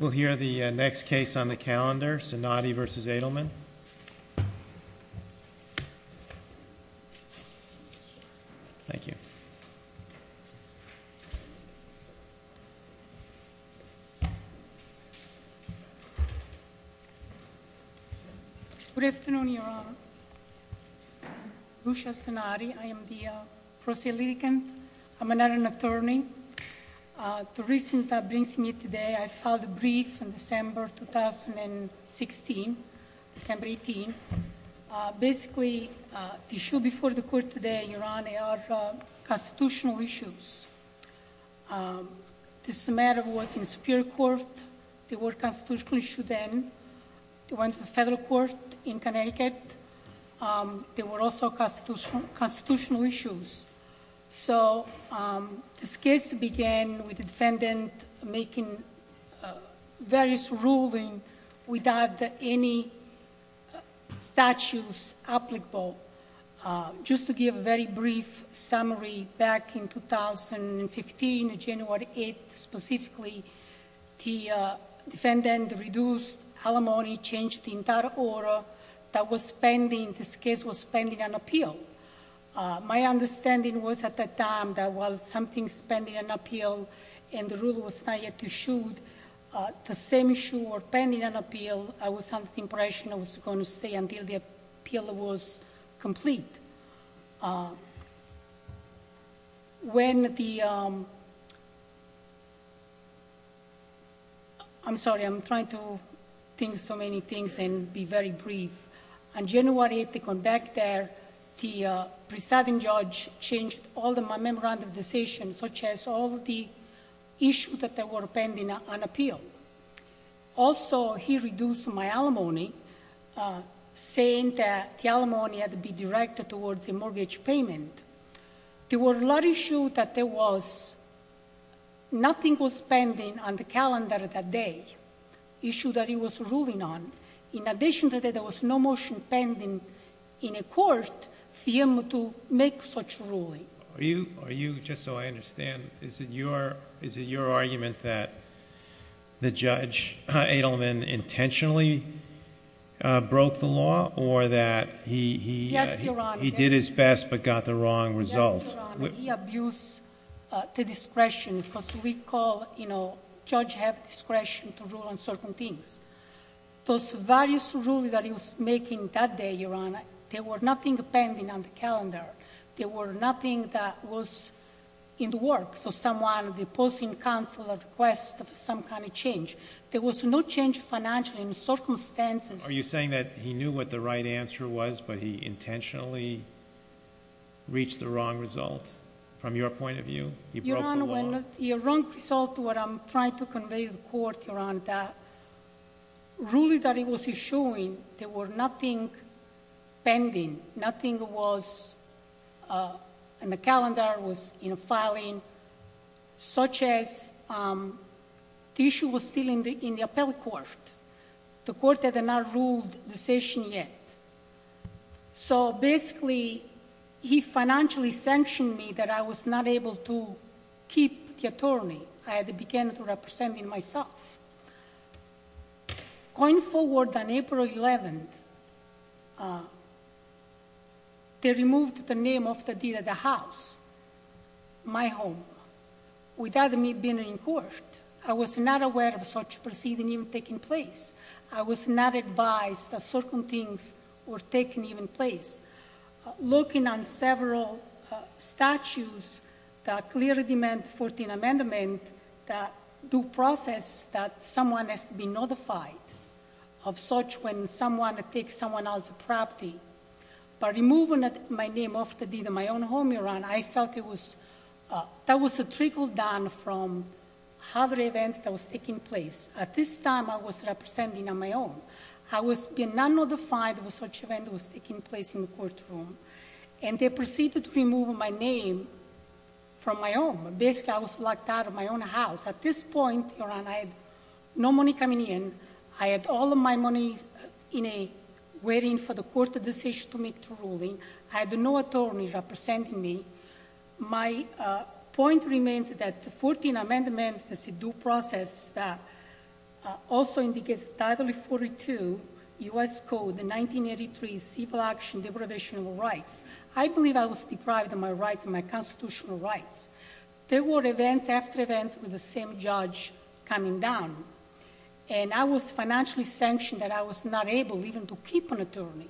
We'll hear the next case on the calendar, Sonati v. Adelman. Thank you. Good afternoon, Your Honor. Lucia Sonati. I am the prosecutor. I'm not an attorney. The reason that brings me today, I filed a brief in December 2016, December 18. Basically, the issue before the court today, Your Honor, are constitutional issues. This matter was in Superior Court. There were constitutional issues then. It went to the federal court in Connecticut. There were also constitutional issues. So this case began with the defendant making various ruling without any statutes applicable. Just to give a very brief summary, back in 2015, January 8 specifically, the defendant reduced alimony, changed the entire order that was pending. This case was pending an appeal. My understanding was at that time that while something was pending an appeal and the rule was not yet issued, the same issue was pending an appeal. I was under the impression it was going to stay until the appeal was complete. I'm sorry. I'm trying to think of so many things and be very brief. On January 8, they come back there, the presiding judge changed all the memorandum decisions, such as all the issues that were pending an appeal. Also, he reduced my alimony, saying that the alimony had to be directed towards a mortgage payment. There were a lot of issues that there was nothing was pending on the calendar that day, issues that he was ruling on. In addition to that, there was no motion pending in a court for him to make such a ruling. Are you, just so I understand, is it your argument that the judge, Adleman, intentionally broke the law or that he did his best but got the wrong result? Yes, Your Honor. He abused the discretion because we call, you know, judge have discretion to rule on certain things. Those various rulings that he was making that day, Your Honor, there was nothing pending on the calendar. There was nothing that was in the works. So someone, the opposing counsel requests some kind of change. There was no change financially in circumstances. Are you saying that he knew what the right answer was but he intentionally reached the wrong result from your point of view? He broke the law. Your wrong result, what I'm trying to convey to the court, Your Honor, that ruling that he was issuing, there was nothing pending. Nothing was on the calendar, was in filing, such as the issue was still in the appellate court. The court had not ruled the session yet. So basically, he financially sanctioned me that I was not able to keep the attorney. I had to begin representing myself. Going forward on April 11th, they removed the name of the deed of the house, my home, without me being in court. I was not aware of such proceeding taking place. I was not advised that certain things were taking even place. Looking on several statutes that clearly demand 14th Amendment, that due process that someone has to be notified of such when someone takes someone else's property. By removing my name off the deed of my own home, Your Honor, I felt it was, that was a trickle down from other events that was taking place. At this time, I was representing on my own. I was being not notified of such event was taking place in the courtroom. And they proceeded to remove my name from my home. Basically, I was locked out of my own house. At this point, Your Honor, I had no money coming in. I had all of my money in a waiting for the court decision to make the ruling. I had no attorney representing me. My point remains that the 14th Amendment is a due process that also indicates Title 42, U.S. Code 1983, Civil Action Deprivation of Rights. I believe I was deprived of my rights, my constitutional rights. There were events after events with the same judge coming down. And I was financially sanctioned that I was not able even to keep an attorney.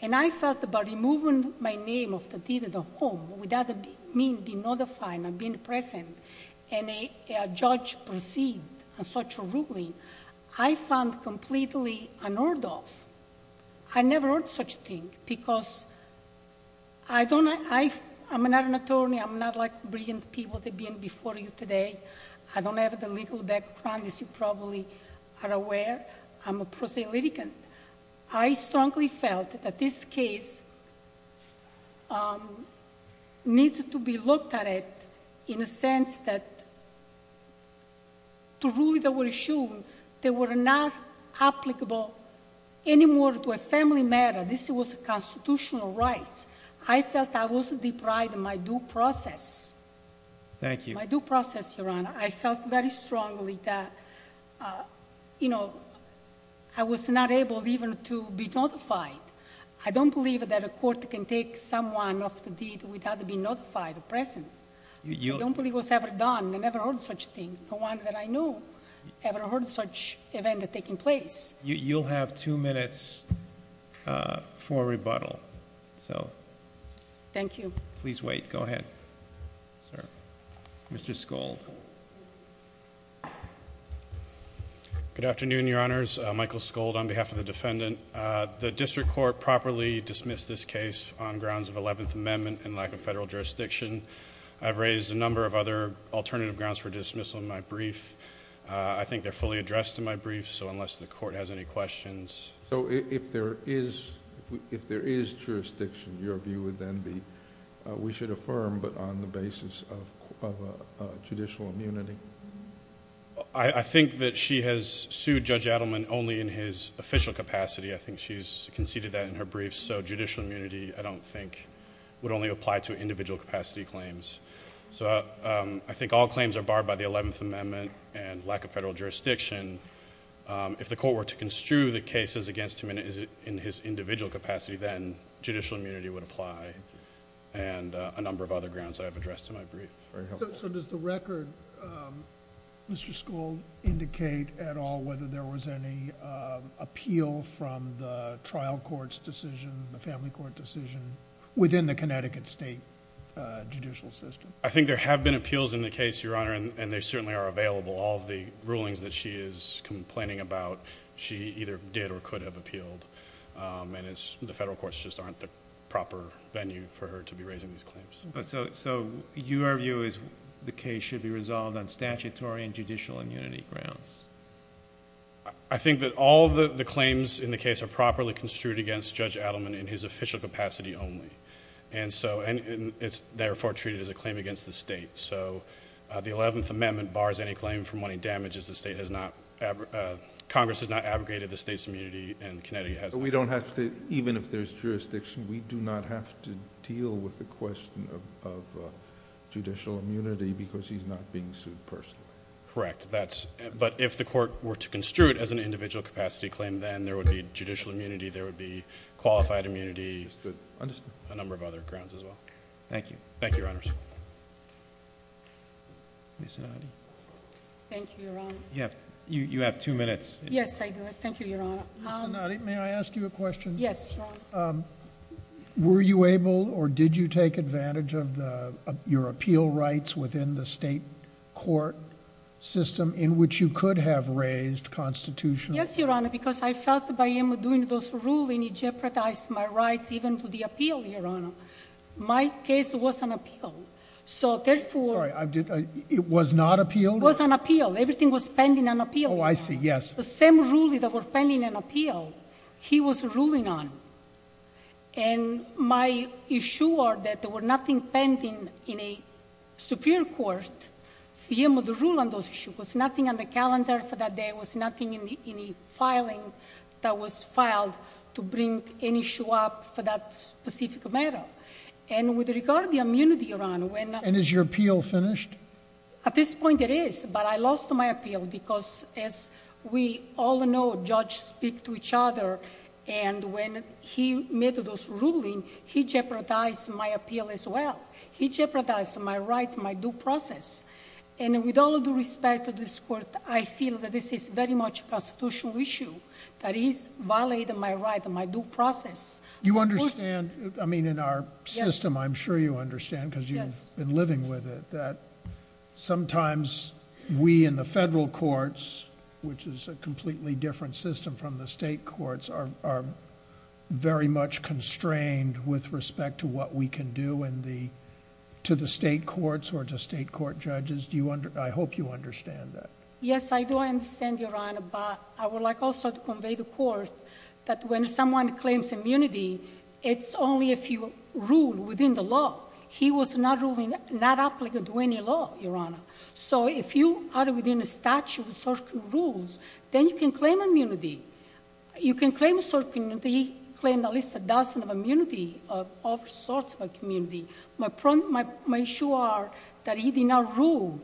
And I felt about removing my name off the deed of the home without me being notified, not being present, and a judge proceed on such a ruling, I found completely unheard of. I never heard such a thing because I don't know. I'm not an attorney. I'm not like brilliant people that have been before you today. I don't have the legal background, as you probably are aware. I'm a prosaic litigant. I strongly felt that this case needs to be looked at it in a sense that to rule the issue, they were not applicable anymore to a family matter. This was a constitutional right. I felt I was deprived of my due process. My due process, Your Honor. I felt very strongly that I was not able even to be notified. I don't believe that a court can take someone off the deed without being notified of presence. I don't believe it was ever done. I never heard such a thing. No one that I knew ever heard such event taking place. You'll have two minutes for rebuttal. Thank you. Please wait. Go ahead. Mr. Skold. Good afternoon, Your Honors. Michael Skold on behalf of the defendant. The district court properly dismissed this case on grounds of Eleventh Amendment and lack of federal jurisdiction. I've raised a number of other alternative grounds for dismissal in my brief. I think they're fully addressed in my brief, so unless the court has any questions... If there is jurisdiction, your view would then be we should affirm, but on the basis of judicial immunity. I think that she has sued Judge Adleman only in his official capacity. I think she's conceded that in her brief, so judicial immunity, I don't think, would only apply to individual capacity claims. I think all claims are barred by the Eleventh Amendment and lack of federal jurisdiction. If the court were to construe the cases against him in his individual capacity, then judicial immunity would apply. Thank you. And a number of other grounds that I've addressed in my brief. Very helpful. So, does the record, Mr. Skold, indicate at all whether there was any appeal from the trial court's decision, the family court decision, within the Connecticut State judicial system? I think there have been appeals in the case, Your Honor, and they certainly are available. All of the rulings that she is complaining about, she either did or could have appealed. And the federal courts just aren't the proper venue for her to be raising these claims. So, your view is the case should be resolved on statutory and judicial immunity grounds? I think that all of the claims in the case are properly construed against Judge Adleman in his official capacity only. And so, it's therefore treated as a claim against the state. So, the Eleventh Amendment bars any claim for money damages the state has not, Congress has not abrogated the state's immunity and Connecticut has not. But we don't have to, even if there's jurisdiction, we do not have to deal with the question of judicial immunity because he's not being sued personally. Correct. But if the court were to construe it as an individual capacity claim, then there would be judicial immunity, there would be qualified immunity. There would be a number of other grounds as well. Thank you, Your Honors. Ms. Sinati. Thank you, Your Honor. You have two minutes. Yes, I do. Thank you, Your Honor. Ms. Sinati, may I ask you a question? Yes, Your Honor. Were you able or did you take advantage of your appeal rights within the state court system in which you could have raised constitutional? Yes, Your Honor, because I felt by him doing those ruling, he jeopardized my rights even to the appeal, Your Honor. My case was an appeal. So, therefore— Sorry, it was not appealed? It was an appeal. Everything was pending an appeal. Oh, I see. Yes. The same ruling that was pending an appeal, he was ruling on. And my issue was that there was nothing pending in a superior court. The rule on those issues was nothing on the calendar for that day. There was nothing in the filing that was filed to bring an issue up for that specific matter. And with regard to the immunity, Your Honor, when— And is your appeal finished? At this point, it is, but I lost my appeal because, as we all know, judges speak to each other. And when he made those ruling, he jeopardized my appeal as well. He jeopardized my rights, my due process. And with all due respect to this court, I feel that this is very much a constitutional issue that is violating my rights and my due process. You understand—I mean, in our system, I'm sure you understand because you've been living with it— Yes. —sometimes we in the federal courts, which is a completely different system from the state courts, are very much constrained with respect to what we can do to the state courts or to state court judges. I hope you understand that. Yes, I do understand, Your Honor, but I would like also to convey to the court that when someone claims immunity, it's only if you rule within the law. He was not ruling—not applicable to any law, Your Honor. So if you are within a statute with certain rules, then you can claim immunity. You can claim a certain—he claimed at least a dozen of immunity of all sorts of a community. My issue are that he did not rule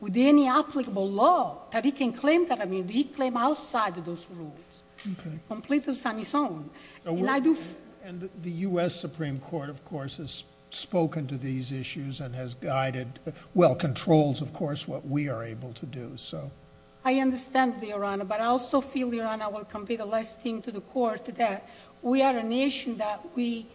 with any applicable law that he can claim that immunity. He claimed outside of those rules. Okay. Completely on his own. And the U.S. Supreme Court, of course, has spoken to these issues and has guided—well, controls, of course, what we are able to do. I understand, Your Honor, but I also feel, Your Honor, I will convey the last thing to the court, that we are a nation that we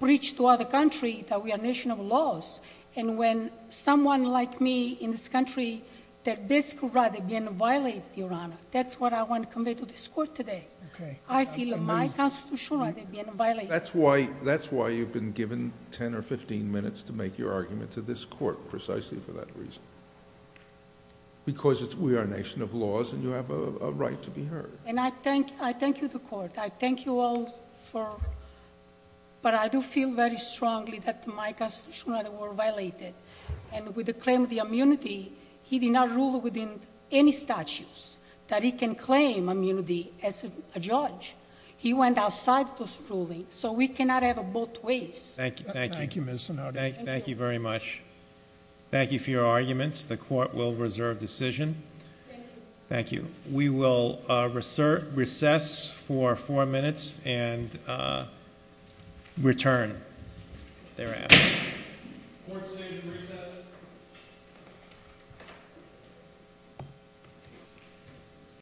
preach to other country that we are a nation of laws. And when someone like me in this country, their basic right, again, violate, Your Honor, that's what I want to convey to this court today. Okay. I feel my constitutional right have been violated. That's why you've been given 10 or 15 minutes to make your argument to this court precisely for that reason. Because we are a nation of laws and you have a right to be heard. And I thank you to court. I thank you all for—but I do feel very strongly that my constitutional right were violated. And with the claim of the immunity, he did not rule within any statutes that he can claim immunity as a judge. He went outside those rulings. So we cannot have both ways. Thank you. Thank you. Thank you very much. Thank you for your arguments. The court will reserve decision. Thank you. Thank you. We will recess for four minutes and return thereafter. Court is seated and recessed.